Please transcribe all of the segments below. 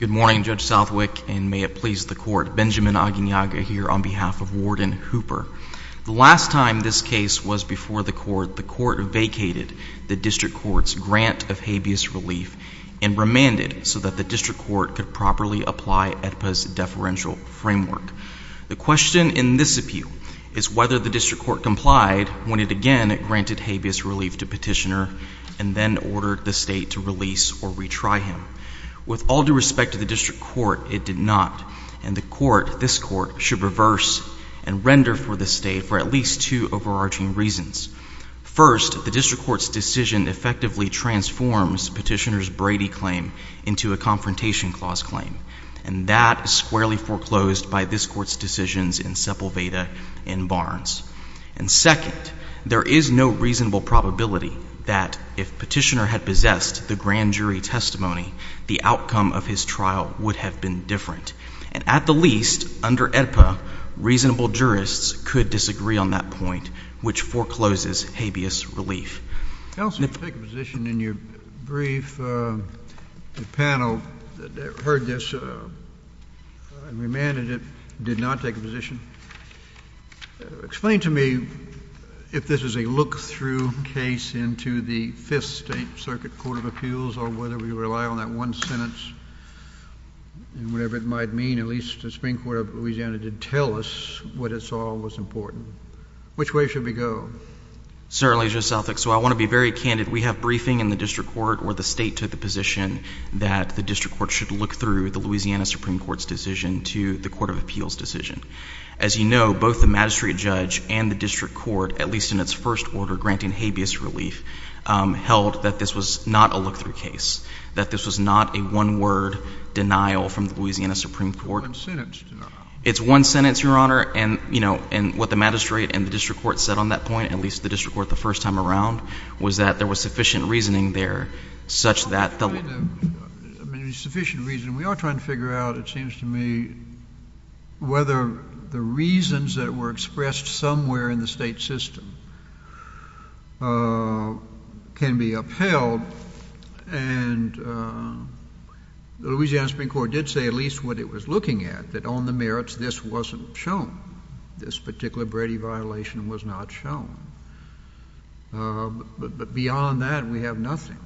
Good morning, Judge Southwick, and may it please the Court. Benjamin Aguiñaga here on behalf of Warden Hooper. The last time this case was before the Court, the Court vacated the District Court's grant of habeas relief and remanded so that the District Court could properly apply AEDPA's deferential framework. The question in this appeal is whether the District Court complied when it again granted habeas relief to Petitioner and then ordered the State to release or retry him. With all due respect to the District Court, it did not, and the Court, this Court, should reverse and render for the State for at least two overarching reasons. First, the District Court's decision effectively transforms Petitioner's Brady claim into a Confrontation Clause claim, and that is squarely foreclosed by this Court's decisions in Sepulveda and Barnes. And second, there is no reasonable probability that if Petitioner had possessed the grand jury testimony, the outcome of his trial would have been different. And at the least, under AEDPA, reasonable jurists could disagree on that point, which forecloses habeas relief. JUSTICE KENNEDY. Counsel, did you take a position in your brief panel that heard this and remanded it, did not take a position? Explain to me if this is a look-through case into the Fifth State Circuit Court of Appeals or whether we rely on that one sentence, and whatever it might mean, at least the Supreme Court of Louisiana did tell us what it saw was important. Which way should we go? MR. WHITE. Certainly, Justice Southwick. So I want to be very candid. We have briefing in the District Court where the State took the position that the District Court should look through the Louisiana Supreme Court's decision to the Court of Appeals' decision. As you know, both the magistrate judge and the District Court, at least in its first order, granting habeas relief, held that this was not a look-through case, that this was not a one-word denial from the Louisiana Supreme Court. JUSTICE KENNEDY. It's a one-sentence denial. MR. WHITE. It's one sentence, Your Honor, and, you know, and what the magistrate and the District Court said on that point, at least the District Court the first time around, was that there was sufficient reasoning there such that the — JUSTICE KENNEDY. I mean, sufficient reasoning. We are trying to figure out, it seems to me, whether the reasons that were expressed somewhere in the Louisiana Supreme Court did say at least what it was looking at, that on the merits this wasn't shown, this particular Brady violation was not shown. But beyond that, we have nothing. MR. WHITE.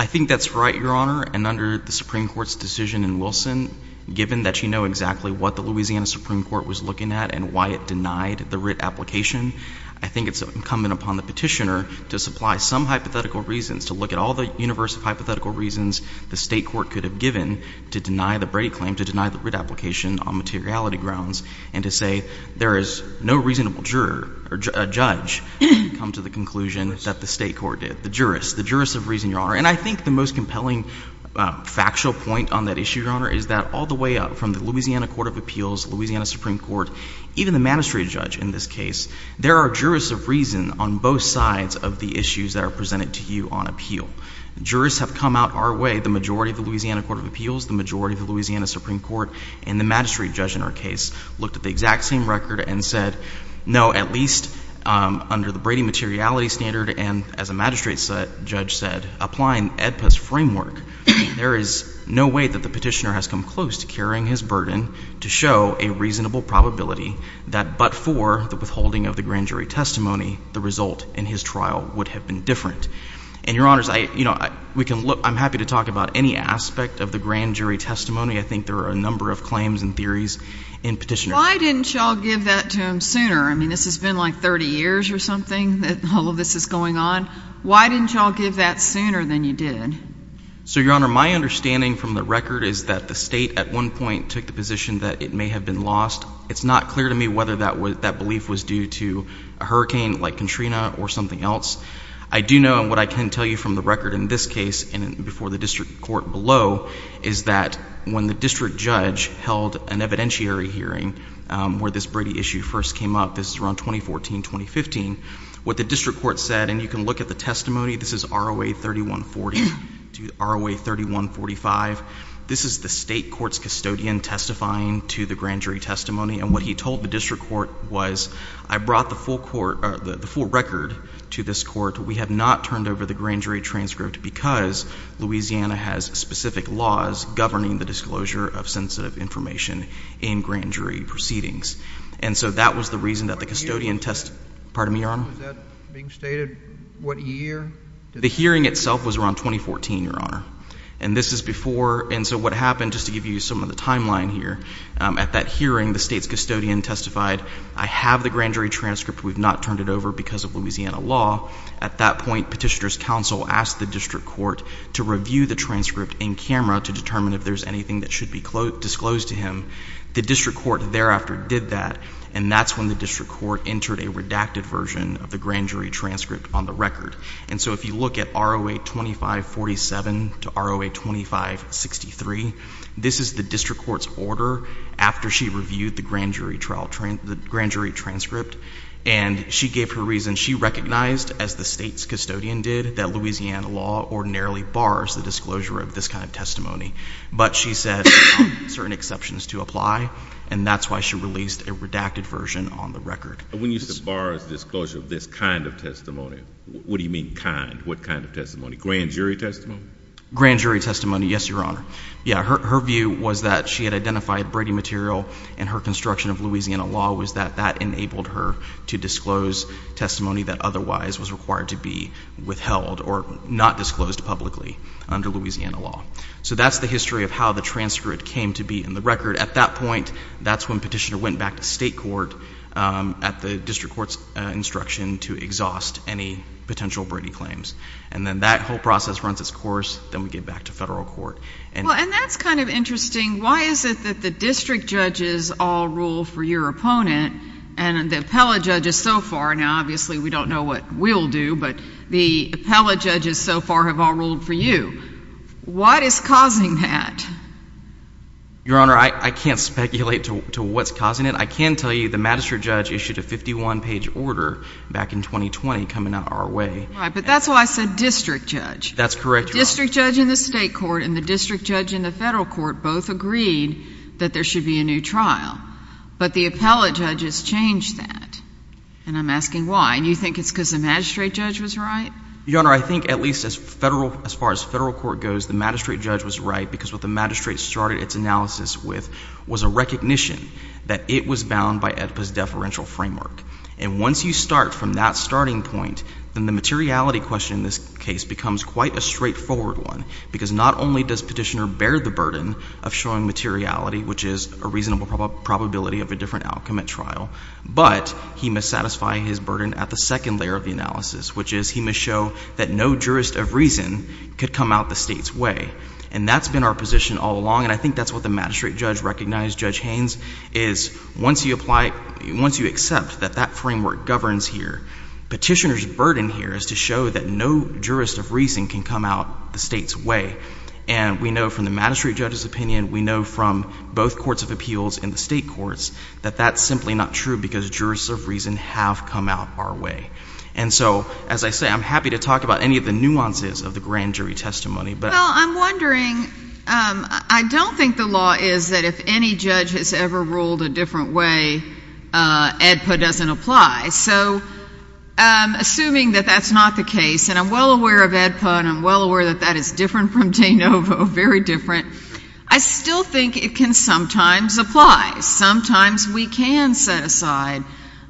I think that's right, Your Honor, and under the Supreme Court's decision in Wilson, given that you know exactly what the Louisiana Supreme Court was looking at and why it denied the writ application, I think it's incumbent upon the petitioner to supply some hypothetical reasons, to look at all the universe of hypothetical reasons the State Court could have given to deny the Brady claim, to deny the writ application on materiality grounds, and to say there is no reasonable juror or judge to come to the conclusion that the State Court did, the jurists, the jurists of reason, Your Honor. And I think the most compelling factual point on that issue, Your Honor, is that all the way up from the Louisiana Court of Appeals, Louisiana Supreme Court, even the magistrate judge in this case, there are jurists of reason on both sides of the issues that are presented to you on appeal. Jurists have come out our way, the majority of the Louisiana Court of Appeals, the majority of the Louisiana Supreme Court, and the magistrate judge in our case looked at the exact same record and said, no, at least under the Brady materiality standard and, as a magistrate judge said, applying AEDPA's framework, there is no way that the petitioner has come close to carrying his burden to show a reasonable probability that but for the withholding of the grand jury testimony, the result in his trial would have been different. And, Your Honors, I, you know, we can look, I'm happy to talk about any aspect of the grand jury testimony. I think there are a number of claims and theories in petitioner's. Why didn't y'all give that to him sooner? I mean, this has been like 30 years or something that all of this is going on. Why didn't y'all give that sooner than you did? So, Your Honor, my understanding from the record is that the State at one point took the position that it may have been lost. It's not clear to me whether that belief was due to a hurricane like Katrina or something else. I do know, and what I can tell you from the record in this case and before the district court below, is that when the district judge held an evidentiary hearing where this Brady issue first came up, this is around 2014, 2015, what the district court said, and you can look at the testimony, this is ROA 3140 to ROA 3145. This is the State Court's custodian testifying to the grand jury testimony, and what he told the district court was, I brought the full record to this court. We have not turned over the grand jury transcript because Louisiana has specific laws governing the disclosure of sensitive information in grand jury proceedings. And so that was the reason that the custodian test, pardon me, Your Honor? Was that being stated what year? The hearing itself was around 2014, Your Honor. And this is before, and so what happened, just to give you some of the timeline here, at that hearing, the State's custodian testified, I have the grand jury transcript. We've not turned it over because of Louisiana law. At that point, Petitioner's counsel asked the district court to review the transcript in camera to determine if there's anything that should be disclosed to him. The district court thereafter did that, and that's when the district court entered a redacted version of the grand jury transcript on the record. And so if you look at ROA 2547 to ROA 2563, this is the district court's order after she reviewed the grand jury trial, the grand jury transcript, and she gave her reason. She recognized, as the State's custodian did, that Louisiana law ordinarily bars the disclosure of this kind of testimony. But she said there are certain exceptions to apply, and that's why she released a redacted version on the record. When you said bars disclosure of this kind of testimony, what do you mean kind? What kind of testimony? Grand jury testimony? Grand jury testimony, yes, Your Honor. Yeah, her view was that she had identified Brady material and her construction of Louisiana law was that that enabled her to disclose testimony that otherwise was required to be withheld or not disclosed publicly under Louisiana law. So that's the history of how the transcript came to be in the record. At that point, that's when Petitioner went back to state court at the district court's instruction to exhaust any potential Brady claims. And then that whole process runs its course, then we get back to federal court. Well, and that's kind of interesting. Why is it that the district judges all rule for your opponent and the appellate judges so far? Now, obviously, we don't know what we'll do, but the appellate judges so far have all ruled for you. What is causing that? Your Honor, I can't speculate to what's causing it. I can tell you the magistrate judge issued a 51-page order back in 2020 coming out of our way. Right, but that's why I said district judge. That's correct, Your Honor. District judge in the state court and the district judge in the federal court both agreed that there should be a new trial. But the appellate judges changed that, and I'm asking why. Do you think it's because the magistrate judge was right? Your Honor, I think at least as far as federal court goes, the magistrate judge was right because what the magistrate started its analysis with was a recognition that it was bound by AEDPA's deferential framework. And once you start from that starting point, then the materiality question in this case becomes quite a straightforward one because not only does Petitioner bear the burden of showing materiality, which is a reasonable probability of a different outcome at trial, but he must satisfy his burden at the second layer of the analysis, which is he must show that no jurist of reason could come out the state's way. And that's been our position all along, and I think that's what the magistrate judge recognized. Judge Haynes is, once you apply, once you accept that that framework governs here, Petitioner's burden here is to show that no jurist of reason can come out the state's way. And we know from the magistrate judge's opinion, we know from both courts of appeals and the state courts, that that's simply not true because jurists of reason have come out our way. And so, as I say, I'm happy to talk about any of the nuances of the grand jury testimony, but... Well, I'm wondering, I don't think the law is that if any judge has ever ruled a different way, AEDPA doesn't apply. So, assuming that that's not the case, and I'm well aware of AEDPA and I'm well aware that that is different from de novo, very different, I still think it can sometimes apply. Sometimes we can set aside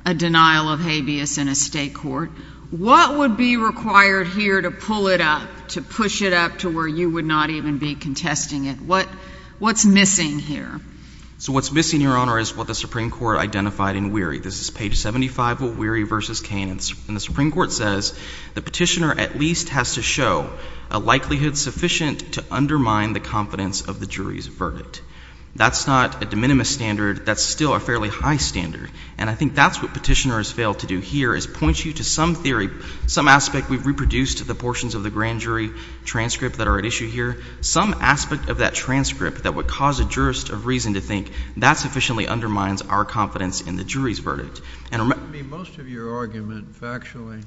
a denial of habeas in a state court. What would be required here to pull it up, to push it up to where you would not even be contesting it? What's missing here? So what's missing, Your Honor, is what the Supreme Court identified in Weary. This is page 75 of Weary v. Kane, and the Supreme Court says, the petitioner at least has to show a likelihood sufficient to undermine the confidence of the jury's verdict. That's not a de minimis standard. That's still a fairly high standard. And I think that's what petitioners fail to do here, is point you to some theory, some aspect we've reproduced the portions of the grand jury transcript that are at issue here. Some aspect of that transcript that would cause a jurist of reason to think that sufficiently undermines our confidence in the jury's verdict. Most of your argument, factually,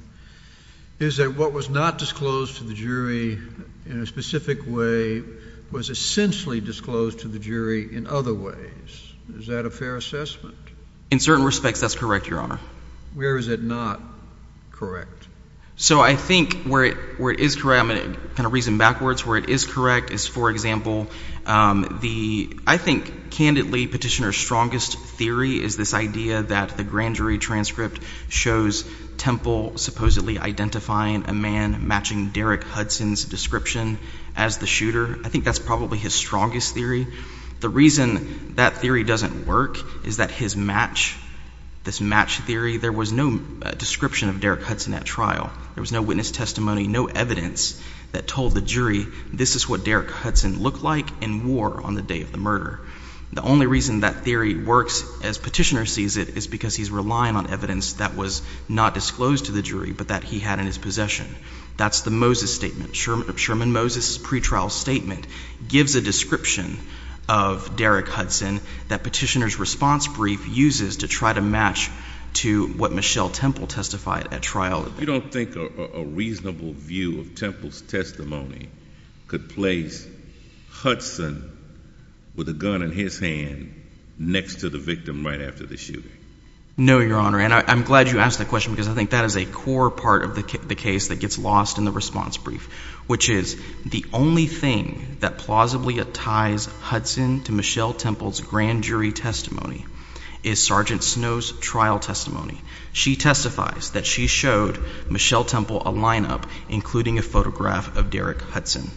is that what was not disclosed to the jury in a specific way was essentially disclosed to the jury in other ways. Is that a fair assessment? In certain respects, that's correct, Your Honor. Where is it not correct? So I think where it is correct, I'm going to kind of reason backwards, where it is correct is, for example, the — I think, candidly, petitioner's strongest theory is this idea that the grand jury transcript shows Temple supposedly identifying a man matching Derrick Hudson's description as the shooter. I think that's probably his strongest theory. The reason that theory doesn't work is that his match, this match theory, there was no description of Derrick Hudson at trial. There was no witness testimony, no evidence that told the jury this is what Derrick Hudson looked like in war on the day of the murder. The only reason that theory works, as petitioner sees it, is because he's relying on evidence that was not disclosed to the jury, but that he had in his possession. That's the Moses Statement. Sherman Moses' pretrial statement gives a description of Derrick Hudson that petitioner's response brief uses to try to match to what Michelle Temple testified at trial. You don't think a reasonable view of Temple's testimony could place Hudson with a gun in his hand next to the victim right after the shooting? No, Your Honor, and I'm glad you asked that question because I think that is a core part of the case that gets lost in the response brief, which is the only thing that plausibly ties Hudson to Michelle Temple's grand jury testimony is Sergeant Snow's trial testimony. She testifies that she showed Michelle Temple a lineup, including a photograph of Derrick Hudson.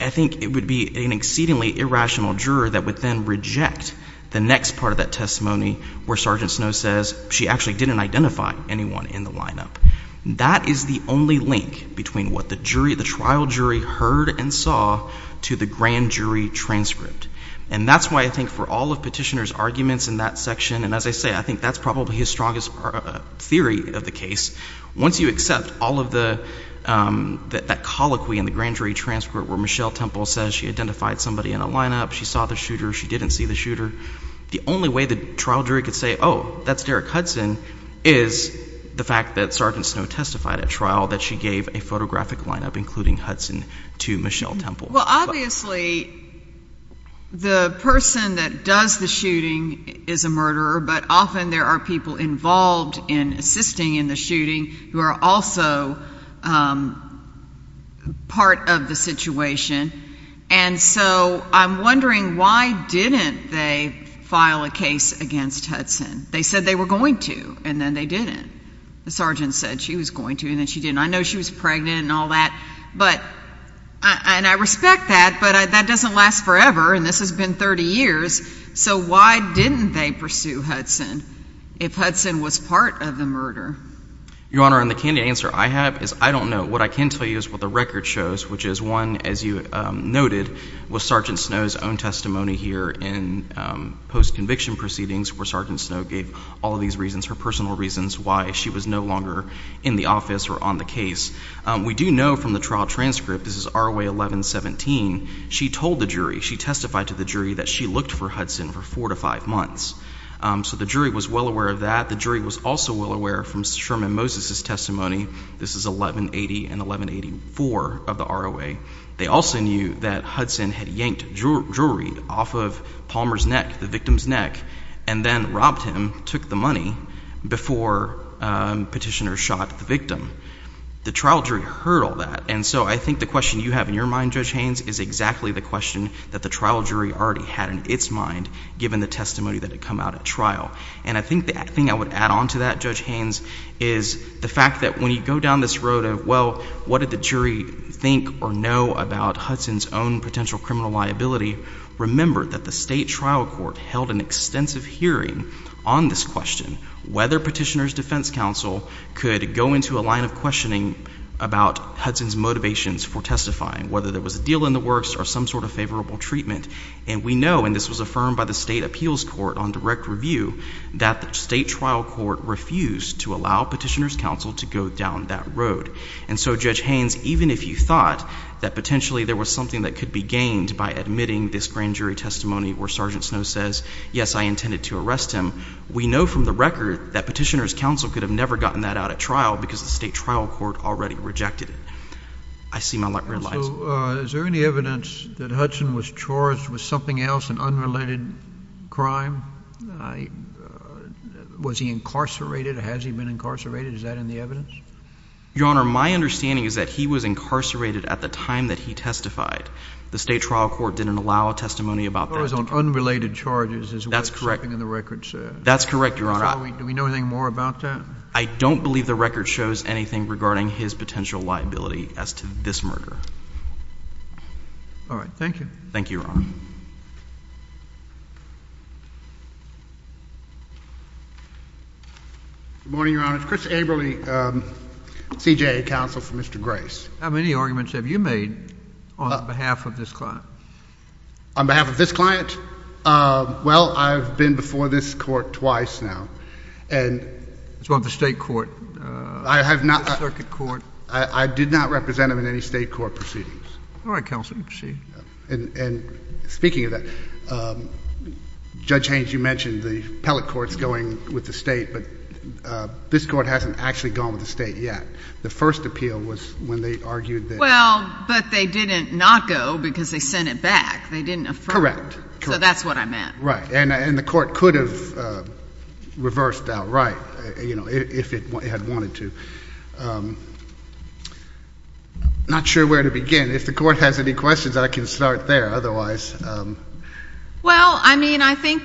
I think it would be an exceedingly irrational juror that would then reject the next part of that testimony where Sergeant Snow says she actually didn't identify anyone in the lineup. That is the only link between what the trial jury heard and saw to the grand jury transcript. And that's why I think for all of petitioner's arguments in that section, and as I say, I think that's probably his strongest theory of the case, once you accept all of that colloquy in the grand jury transcript where Michelle Temple says she identified somebody in a lineup, she saw the shooter, she didn't see the shooter, the only way the trial jury could say, oh, that's Derrick Hudson, is the fact that Sergeant Snow testified at trial that she gave a photographic lineup, including Hudson, to Michelle Temple. Well, obviously, the person that does the shooting is a murderer, but often there are people involved in assisting in the shooting who are also part of the situation. And so I'm wondering why didn't they file a case against Hudson? They said they were going to, and then they didn't. The sergeant said she was going to, and then she didn't. I know she was pregnant and all that, and I respect that, but that doesn't last forever, and this has been 30 years, so why didn't they pursue Hudson if Hudson was part of the murder? Your Honor, and the candid answer I have is I don't know. What I can tell you is what the record shows, which is one, as you noted, was Sergeant Snow's own testimony here in post-conviction proceedings where Sergeant Snow gave all of these reasons, her personal reasons why she was no longer in the office or on the case. We do know from the trial transcript, this is ROA 1117, she told the jury, she testified to the jury that she looked for Hudson for four to five months. So the jury was well aware of that. The jury was also well aware from Sherman Moses' testimony, this is 1180 and 1184 of the ROA, they also knew that Hudson had yanked jewelry off of Palmer's neck, the victim's neck, and then robbed him, took the money, before Petitioner shot the victim. The trial jury heard all of that. And so I think the question you have in your mind, Judge Haynes, is exactly the question that the trial jury already had in its mind given the testimony that had come out at trial. And I think the thing I would add on to that, Judge Haynes, is the fact that when you go down this road of, well, what did the jury think or know about Hudson's own potential criminal liability, remember that the state trial court held an extensive hearing on this question, whether Petitioner's defense counsel could go into a line of questioning about Hudson's motivations for testifying, whether there was a deal in the works or some sort of favorable treatment. And we know, and this was affirmed by the state appeals court on direct review, that the state trial court refused to allow Petitioner's counsel to go down that road. And so, Judge Haynes, even if you thought that potentially there was something that could be gained by admitting this grand jury testimony where Sergeant Snow says, yes, I intended to arrest him, we know from the record that Petitioner's counsel could have never gotten that out at trial because the state trial court already rejected it. I see my red lights. So, is there any evidence that Hudson was charged with something else, an unrelated crime? Was he incarcerated? Has he been incarcerated? Is that in the evidence? Your Honor, my understanding is that he was incarcerated at the time that he testified. The state trial court didn't allow a testimony about that. He was on unrelated charges is what something in the record says. That's correct, Your Honor. Do we know anything more about that? I don't believe the record shows anything regarding his potential liability as to this murder. All right. Thank you. Thank you, Your Honor. Good morning, Your Honor. It's Chris Averly, CJA counsel for Mr. Grace. How many arguments have you made on behalf of this client? On behalf of this client? Well, I've been before this court twice now. As well as the state court, the circuit court. I did not represent him in any state court proceedings. All right, counsel. You can proceed. Speaking of that, Judge Haynes, you mentioned the appellate courts going with the state, but this court hasn't actually gone with the state yet. The first appeal was when they argued that— Well, but they didn't not go because they sent it back. They didn't affirm it. Correct. So that's what I meant. Right. And the court could have reversed outright, you know, if it had wanted to. Not sure where to begin. If the court has any questions, I can start there. Otherwise— Well, I mean, I think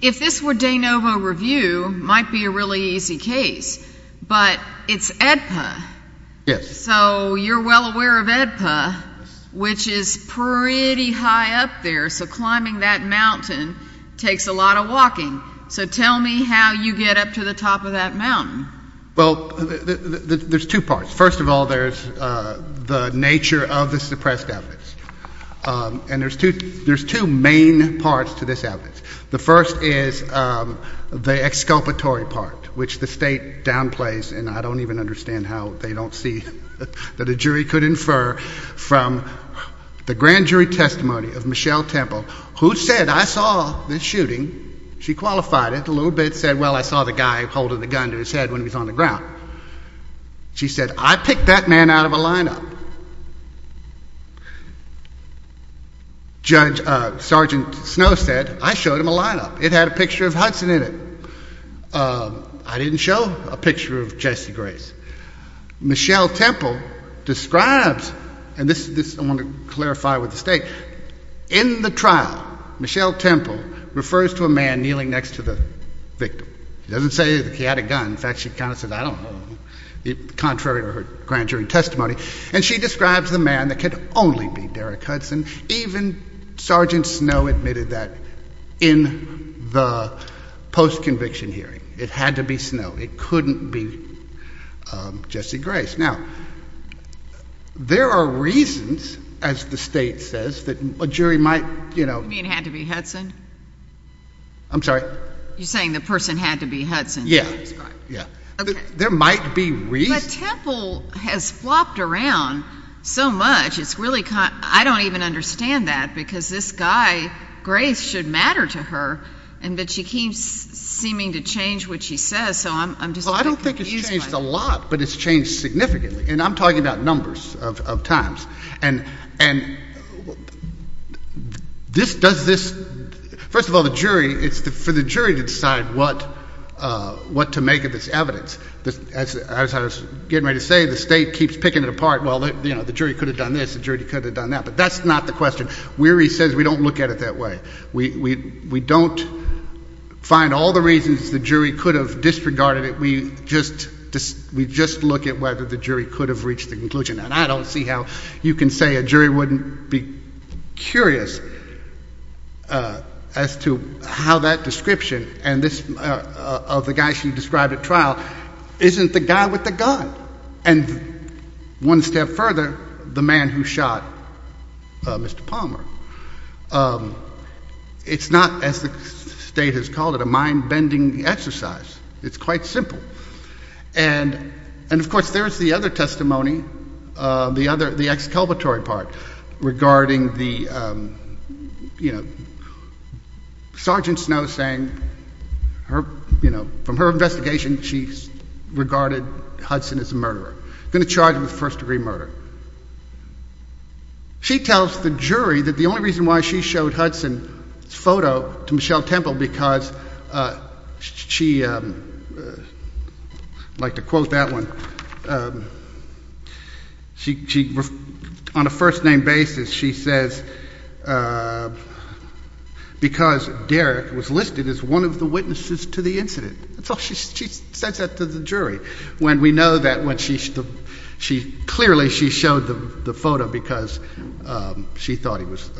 if this were de novo review, it might be a really easy case, but it's AEDPA. Yes. So you're well aware of AEDPA, which is pretty high up there, so climbing that mountain takes a lot of walking. So tell me how you get up to the top of that mountain. Well, there's two parts. First of all, there's the nature of the suppressed evidence. And there's two main parts to this evidence. The first is the exculpatory part, which the state downplays, and I don't even understand how they don't see that a jury could infer from the grand jury testimony of Michelle Temple, who said, I saw this shooting. She qualified it a little bit, said, well, I saw the guy holding the gun to his head when he was on the ground. She said, I picked that man out of a lineup. Judge Sergeant Snow said, I showed him a lineup. It had a picture of Hudson in it. I didn't show a picture of Jesse Grace. Michelle Temple describes—and this I want to clarify with the state—in the trial, Michelle Temple refers to a man kneeling next to the victim. She doesn't say that he had a gun. In fact, she kind of says, I don't know, contrary to her grand jury testimony. And she describes the man that could only be Derek Hudson. Even Sergeant Snow admitted that in the post-conviction hearing. It had to be Snow. It couldn't be Jesse Grace. Now, there are reasons, as the state says, that a jury might, you know— You mean it had to be Hudson? I'm sorry? You're saying the person had to be Hudson? Yeah. Okay. There might be reasons— But Temple has flopped around so much, it's really kind of—I don't even understand that, because this guy, Grace, should matter to her, but she keeps seeming to change what she says, so I'm just— Well, I don't think it's changed a lot, but it's changed significantly. And I'm talking about numbers of times. And does this—first of all, the jury, it's for the jury to decide what to make of this evidence. As I was getting ready to say, the state keeps picking it apart. Well, you know, the jury could have done this, the jury could have done that, but that's not the question. Weary says we don't look at it that way. We don't find all the reasons the jury could have disregarded it, we just look at whether the jury could have reached the conclusion. And I don't see how you can say a jury wouldn't be curious as to how that description of the guy she described at trial isn't the guy with the gun. And one step further, the man who shot Mr. Palmer, it's not, as the state has called it, a mind-bending exercise. It's quite simple. And, of course, there's the other testimony, the other—the excalatory part regarding the, you know, Sergeant Snow saying from her investigation she regarded Hudson as a murderer, going to charge him with first-degree murder. She tells the jury that the only reason why she showed Hudson's photo to Michelle Temple because she—I'd like to quote that one—she, on a first-name basis, she says because Derek was listed as one of the witnesses to the incident. That's all. She says that to the jury when we know that when she—clearly she showed the photo because she thought he was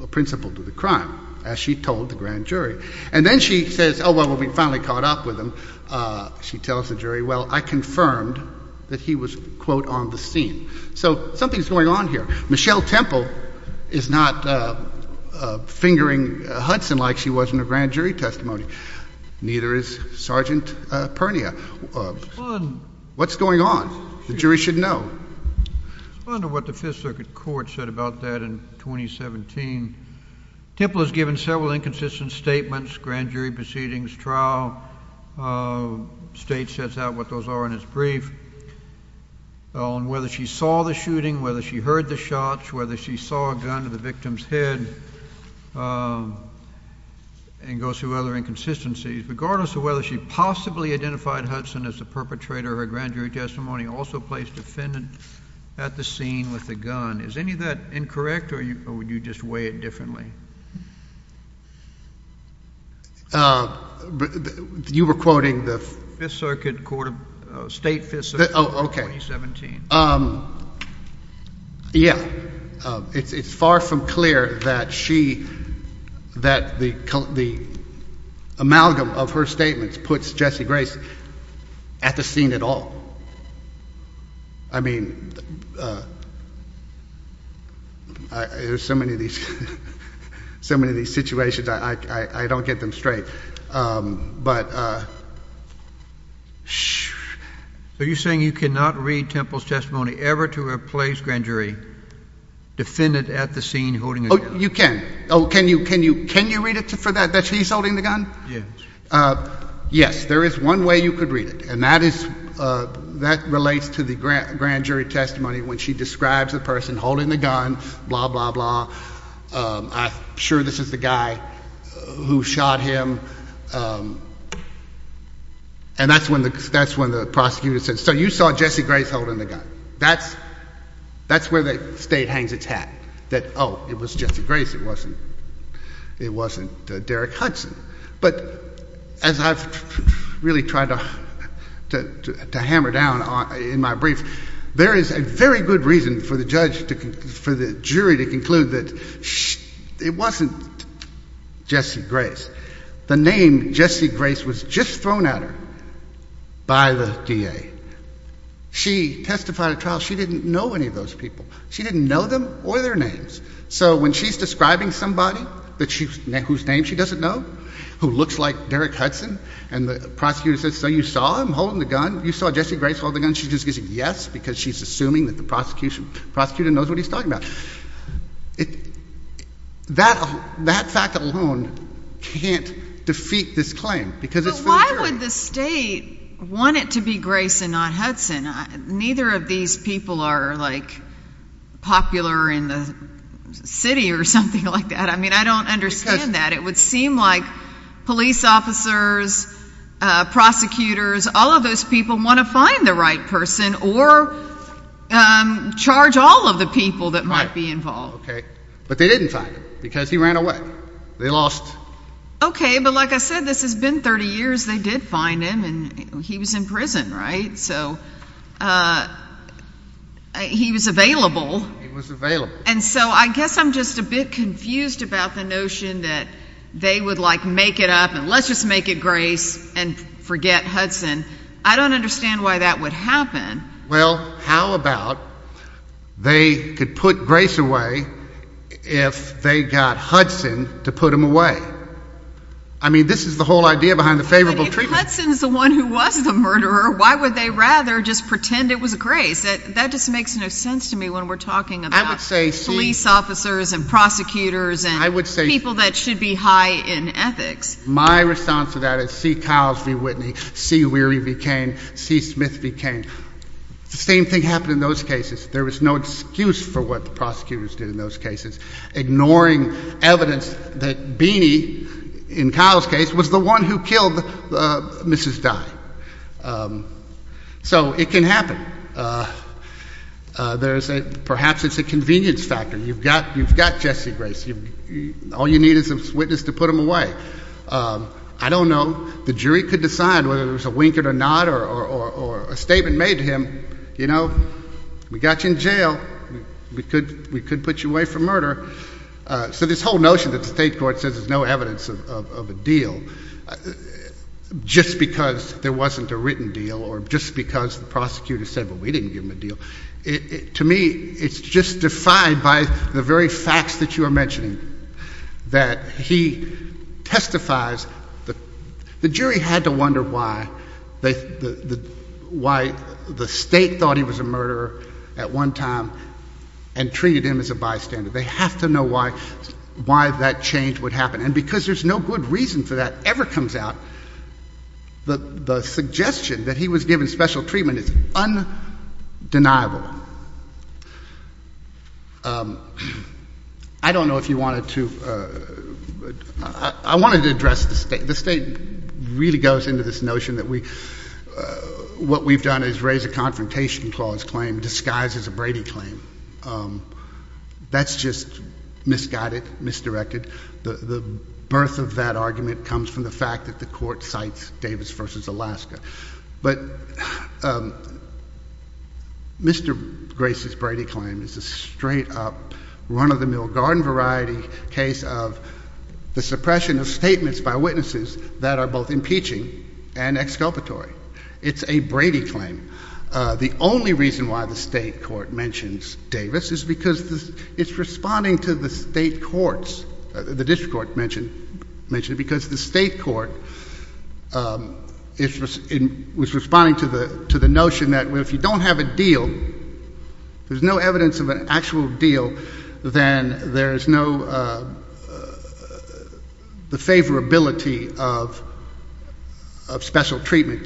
a principal to the crime, as she told the grand jury. And then she says, oh, well, we've finally caught up with him, she tells the jury, well, I confirmed that he was, quote, on the scene. So something's going on here. Michelle Temple is not fingering Hudson like she was in a grand jury testimony. Neither is Sergeant Pernia. What's going on? The jury should know. I wonder what the Fifth Circuit Court said about that in 2017. Temple has given several inconsistent statements, grand jury proceedings, trial. State sets out what those are in its brief on whether she saw the shooting, whether she heard the shots, whether she saw a gun to the victim's head, and goes through other inconsistencies. Regardless of whether she possibly identified Hudson as the perpetrator, her grand jury testimony also placed the defendant at the scene with a gun. Is any of that incorrect, or would you just weigh it differently? You were quoting the— Fifth Circuit Court of—State Fifth Circuit Court in 2017. Oh, okay. Yeah. It's far from clear that she—that the amalgam of her statements puts Jesse Grace at the scene at all. I mean, there's so many of these situations, I don't get them straight. But— Are you saying you cannot read Temple's testimony ever to replace grand jury defendant at the scene holding a gun? Oh, you can. Oh, can you read it for that, that he's holding the gun? Yes. Yes, there is one way you could read it, and that is—that relates to the grand jury testimony when she describes the person holding the gun, blah, blah, blah, I'm sure this is the guy who shot him, and that's when the prosecutor says, so you saw Jesse Grace holding the gun. That's where the state hangs its hat, that, oh, it was Jesse Grace, it wasn't Derek Hudson. But as I've really tried to hammer down in my brief, there is a very good reason for the judge to—for the jury to conclude that it wasn't Jesse Grace. The name Jesse Grace was just thrown at her by the DA. She testified at trial, she didn't know any of those people. She didn't know them or their names. So when she's describing somebody that she—whose name she doesn't know, who looks like Derek Hudson, and the prosecutor says, so you saw him holding the gun? You saw Jesse Grace hold the gun? She just gives a yes because she's assuming that the prosecutor knows what he's talking about. That fact alone can't defeat this claim because it's— But why would the state want it to be Grace and not Hudson? Neither of these people are popular in the city or something like that. I mean, I don't understand that. It would seem like police officers, prosecutors, all of those people want to find the right person or charge all of the people that might be involved. Right. Okay. But they didn't find him because he ran away. They lost— Okay, but like I said, this has been 30 years. They did find him and he was in prison, right? So he was available. He was available. And so I guess I'm just a bit confused about the notion that they would like make it up and let's just make it Grace and forget Hudson. I don't understand why that would happen. Well, how about they could put Grace away if they got Hudson to put him away? I mean, this is the whole idea behind the favorable treatment. If Hudson is the one who was the murderer, why would they rather just pretend it was Grace? That just makes no sense to me when we're talking about police officers and prosecutors and people that should be high in ethics. My response to that is C. Kyles v. Whitney, C. Weary v. Cain, C. Smith v. Cain. The same thing happened in those cases. There was no excuse for what the prosecutors did in those So it can happen. Perhaps it's a convenience factor. You've got Jesse Grace. All you need is a witness to put him away. I don't know. The jury could decide whether there was a winker or not or a statement made to him, you know, we got you in jail. We could put you away for murder. So this whole notion that the state court says there's no evidence of a deal just because there wasn't a written deal or just because the prosecutor said, well, we didn't give him a deal, to me, it's just defied by the very facts that you are mentioning, that he testifies. The jury had to wonder why the state thought he was a murderer at one time and treated him as a bystander. They have to know why that change would happen. And because there's no good reason for that ever comes out, the suggestion that he was given special treatment is undeniable. I don't know if you wanted to, I wanted to address the state, the state really goes into this notion that we, what we've done is raise a confrontation clause claim disguised as a Brady claim. That's just misguided, misdirected. The birth of that argument comes from the fact that the court cites Davis versus Alaska. But Mr. Grace's Brady claim is a straight up run of the mill garden variety case of the suppression of statements by witnesses that are both impeaching and exculpatory. It's a Brady claim. The only reason why the state court mentions Davis is because it's responding to the state courts, the district court mentioned, because the state court was responding to the notion that if you don't have a deal, there's no evidence of an actual deal, then there is no, the favorability of special treatment,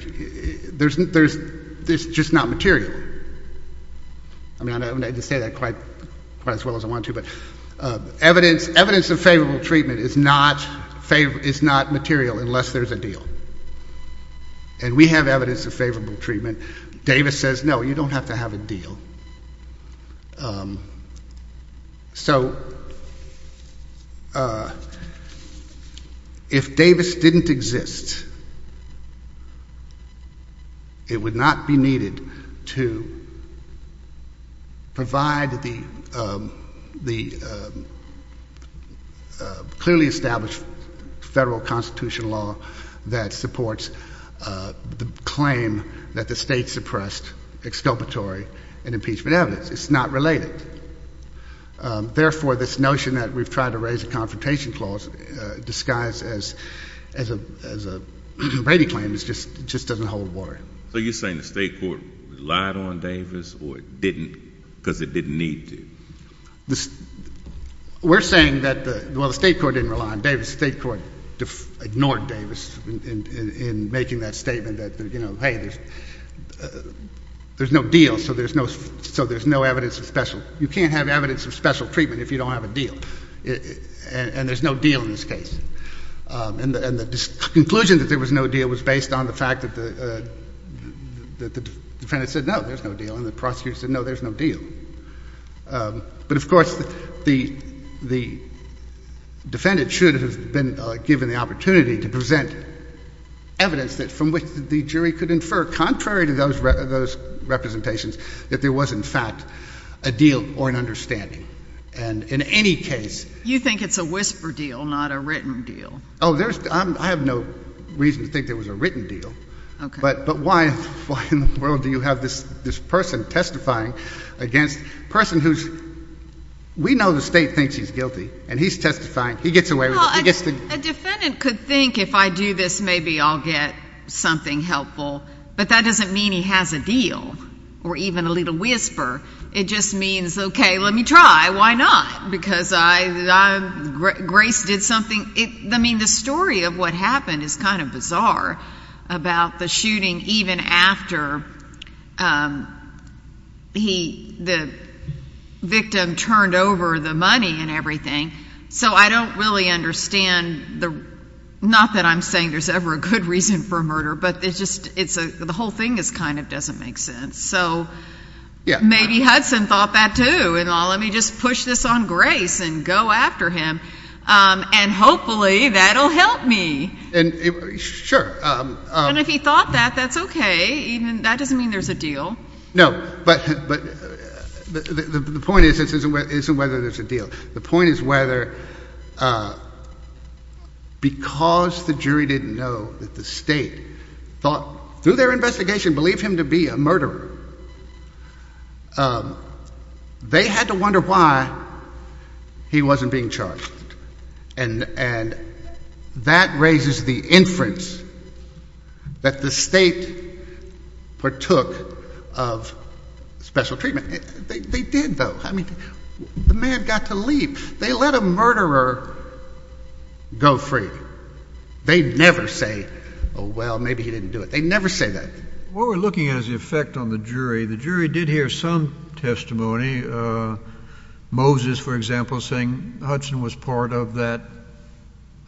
there's just not material. I mean, I don't have to say that quite as well as I want to, but evidence of favorable treatment is not material unless there's a deal. And we have evidence of favorable treatment. Davis says no, you don't have to have a deal. So if Davis didn't exist, it would not be needed to provide the clearly established federal constitutional law that supports the claim that the state suppressed exculpatory and impeachment evidence. It's not related. Therefore, this notion that we've tried to raise a confrontation clause disguised as a Brady claim just doesn't hold water. So you're saying the state court relied on Davis or it didn't because it didn't need to? We're saying that the, well, the state court didn't rely on Davis. The state court ignored Davis in making that statement that, you know, hey, there's no deal, so there's no evidence of special. You can't have evidence of special treatment if you don't have a deal. And there's no deal in this case. And the conclusion that there was no deal was based on the fact that the defendant said no, there's no deal, and the prosecutor said no, there's no deal. But, of course, the defendant should have been given the opportunity to present evidence from which the jury could infer, contrary to those representations, that there was, in fact, a deal or an understanding. And in any case — You think it's a whisper deal, not a written deal. Oh, there's — I have no reason to think there was a written deal. Okay. But why in the world do you have this person testifying against a person who's — we know the state thinks he's guilty, and he's testifying. He gets away with it. Well, a defendant could think, if I do this, maybe I'll get something helpful. But that doesn't mean he has a deal or even a little whisper. It just means, okay, let me try. Why not? Because I — Grace did something — I mean, the story of what happened is kind of bizarre about the shooting even after he — the victim turned over the money and everything. So I don't really understand the — not that I'm saying there's ever a good reason for a murder, but it's just — it's a — the whole thing is kind of — doesn't make sense. So maybe Hudson thought that, too, and, oh, let me just push this on Grace and go after him, and hopefully that'll help me. Sure. And if he thought that, that's okay. That doesn't mean there's a deal. No. But the point isn't whether there's a deal. The point is whether — because the jury didn't know that the state thought, through their investigation, believed him to be a murderer. They had to wonder why he wasn't being charged. And that raises the inference that the state partook of special treatment. They did, though. I mean, the man got to leave. They let a murderer go free. They never say, oh, well, maybe he didn't do it. They never say that. What we're looking at is the effect on the jury. The jury did hear some testimony, Moses, for example, saying Hudson was part of that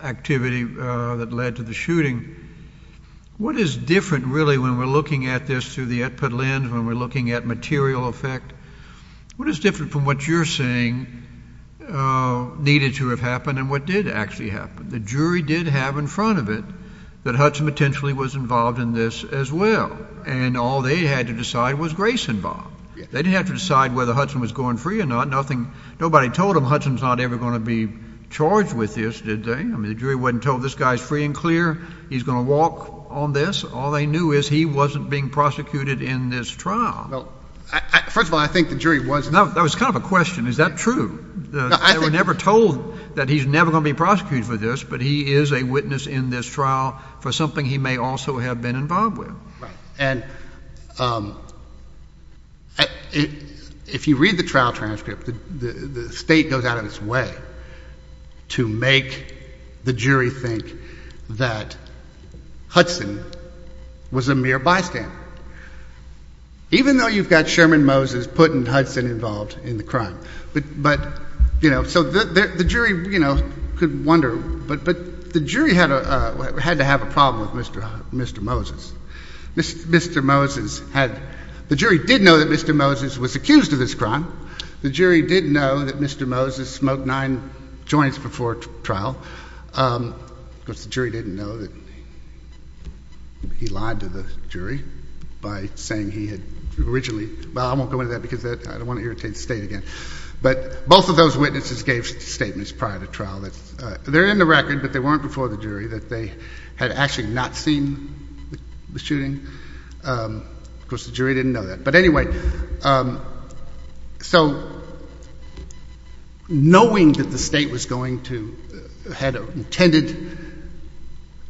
activity that led to the shooting. What is different, really, when we're looking at this through the output lens, when we're looking at material effect, what is different from what you're saying needed to have happened and what did actually happen? The jury did have in front of it that Hudson potentially was involved in this as well. And all they had to decide was Grace involved. They didn't have to decide whether Hudson was going free or not. Nothing — nobody told them Hudson's not ever going to be charged with this, did they? I mean, the jury wasn't told this guy's free and clear. He's going to walk on this. All they knew is he wasn't being prosecuted in this trial. Well, first of all, I think the jury was — No, that was kind of a question. Is that true? No, I think — They were never told that he's never going to be prosecuted for this, but he is a witness in this trial for something he may also have been involved with. Right. And if you read the trial transcript, the State goes out of its way to make the jury think that Hudson was a mere bystander, even though you've got Sherman Moses putting a — had to have a problem with Mr. Moses. Mr. Moses had — the jury did know that Mr. Moses was accused of this crime. The jury did know that Mr. Moses smoked nine joints before trial. Of course, the jury didn't know that he lied to the jury by saying he had originally — well, I won't go into that because I don't want to irritate the State again. But both of those witnesses gave statements prior to trial. They're in the jury that they had actually not seen the shooting. Of course, the jury didn't know that. But anyway, so knowing that the State was going to — had intended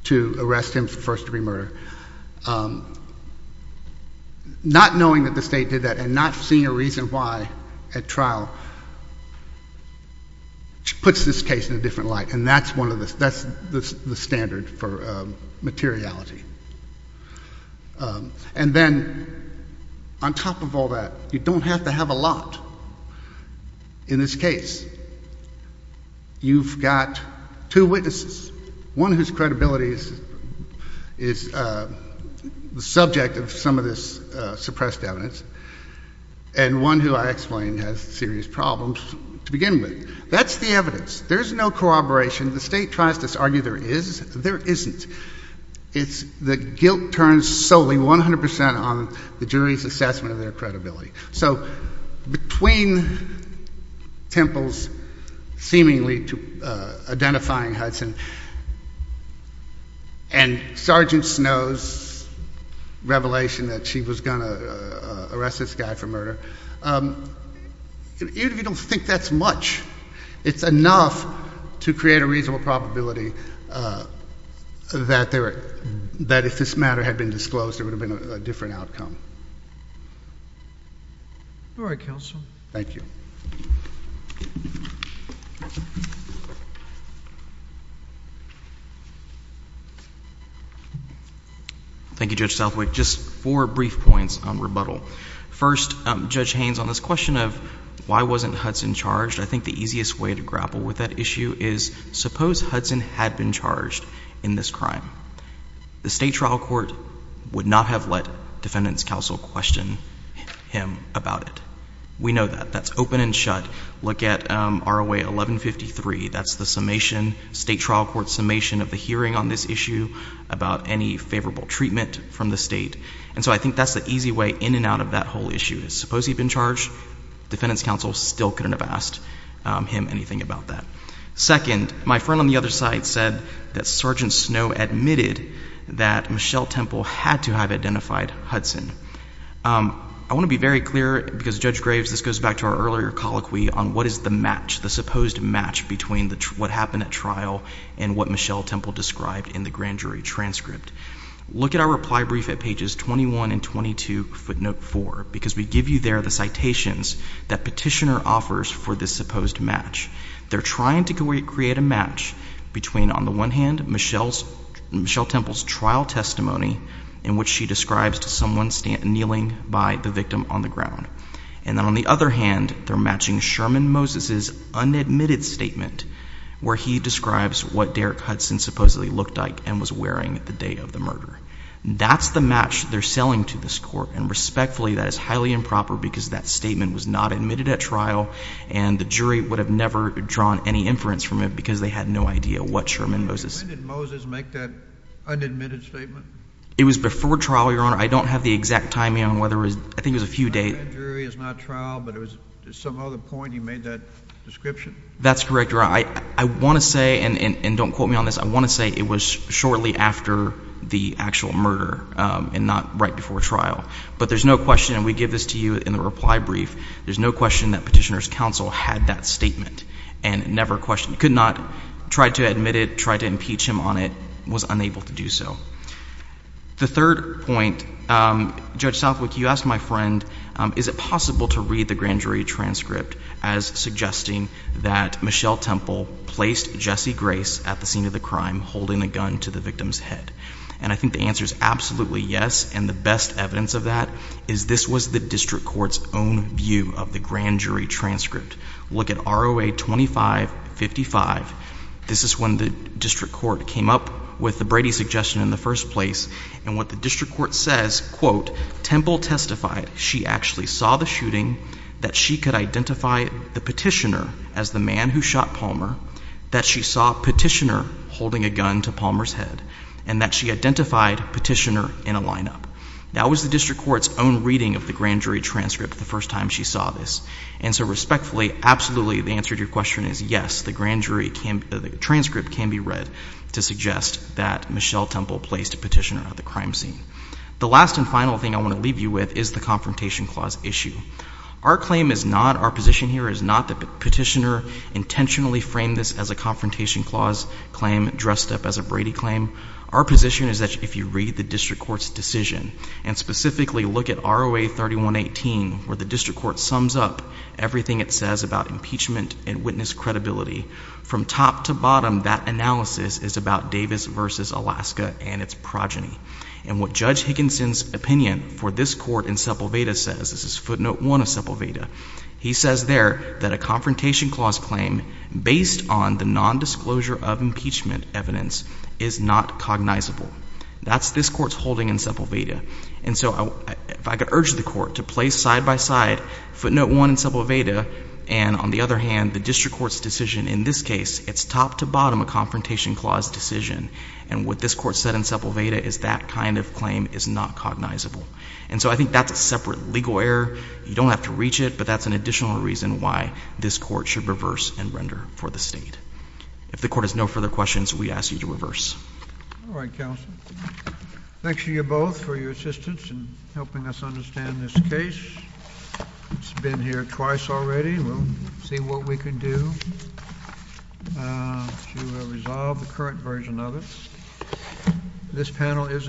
to arrest him for first-degree murder, not knowing that the State did that and not seeing a reason why at trial puts this case in a different light. And that's one of the — that's the standard for materiality. And then on top of all that, you don't have to have a lot in this case. You've got two witnesses, one whose credibility is the subject of some of this suppressed evidence, and one who, I explain, has serious problems to begin with. That's the evidence. There's no corroboration. The State tries to argue there is. There isn't. It's — the guilt turns solely, 100 percent, on the jury's assessment of their credibility. So between Temple's seemingly identifying Hudson and Sergeant Snow's revelation that she was going to arrest this guy for murder, you don't think that's much. It's enough to create a reasonable probability that if this matter had been disclosed, there would have been a different outcome. All right, Counsel. Thank you. Thank you, Judge Southwick. Just four brief points on rebuttal. First, Judge Haynes, on this question of why wasn't Hudson charged, I think the easiest way to grapple with that issue is suppose Hudson had been charged in this crime. The State trial court would not have let defendants' counsel question him about it. We know that. That's open and shut. Look at ROA 1153. That's the summation, State trial court's summation of the hearing on this issue about any favorable treatment from the State. And so I think that's the easy way in and out of that whole issue is suppose he'd been charged, defendants' counsel still couldn't have asked him anything about that. Second, my friend on the other side said that Sergeant Snow admitted that Michelle Temple had to have identified Hudson. I want to be very clear, because Judge Graves, this goes back to our earlier colloquy on what is the match, the supposed match between what happened at trial and what Michelle Temple described in the grand jury transcript. Look at our reply brief at pages 21 and 22, footnote 4, because we give you there the citations that Petitioner offers for this supposed match. They're trying to create a trial testimony in which she describes to someone kneeling by the victim on the ground. And then on the other hand, they're matching Sherman Moses' unadmitted statement where he describes what Derek Hudson supposedly looked like and was wearing the day of the murder. That's the match they're selling to this court. And respectfully, that is highly improper, because that statement was not admitted at trial, and the jury would have never drawn any inference from it, because they had no idea what Sherman Moses. When did Moses make that unadmitted statement? It was before trial, Your Honor. I don't have the exact timing on whether it was, I think it was a few days. That jury is not trial, but there was some other point he made that description? That's correct, Your Honor. I want to say, and don't quote me on this, I want to say it was shortly after the actual murder and not right before trial. But there's no question, and we give this to you in the reply brief, there's no question that Petitioner's counsel had that statement and never questioned, could not try to admit it, tried to impeach him on it, was unable to do so. The third point, Judge Southwick, you asked my friend, is it possible to read the grand jury transcript as suggesting that Michelle Temple placed Jesse Grace at the scene of the crime holding a gun to the victim's head? And I think the answer is absolutely yes, and the best evidence of that is this was the district court's own view of the grand jury transcript. Look at ROA 2555. This is when the district court came up with the Brady suggestion in the first place, and what the district court says, quote, Temple testified she actually saw the shooting, that she could identify the Petitioner as the man who shot Palmer, that she saw Petitioner holding a gun to Palmer's head, and that she identified Petitioner in a lineup. That was the district court's own reading of the grand jury transcript the first time she saw this. And so respectfully, absolutely, the answer to your question is yes, the grand jury transcript can be read to suggest that Michelle Temple placed Petitioner at the crime scene. The last and final thing I want to leave you with is the Confrontation Clause issue. Our claim is not, our position here is not that Petitioner intentionally framed this as a Confrontation Clause claim dressed up as a Brady claim. Our position is that if you read the district court's decision, and specifically look at ROA 3118, where the district court sums up everything it says about impeachment and witness credibility, from top to bottom that analysis is about Davis v. Alaska and its progeny. And what Judge Higginson's opinion for this court in Sepulveda says, this is footnote one of Sepulveda, he says there that a Confrontation Clause claim based on the nondisclosure of impeachment evidence is not cognizable. That's this court's holding in Sepulveda. And so if I could urge the court to place side-by-side footnote one in Sepulveda, and on the other hand, the district court's decision in this case, it's top to bottom a Confrontation Clause decision. And what this court said in Sepulveda is that kind of claim is not cognizable. And so I think that's a separate legal error. You don't have to reach it, but that's an additional reason why this court should reverse and render for the state. If the court has no further questions, we ask you to reverse. All right, counsel. Thanks to you both for your assistance in helping us understand this case. It's been here twice already. We'll see what we can do to resolve the current version of it. This panel is adjourned.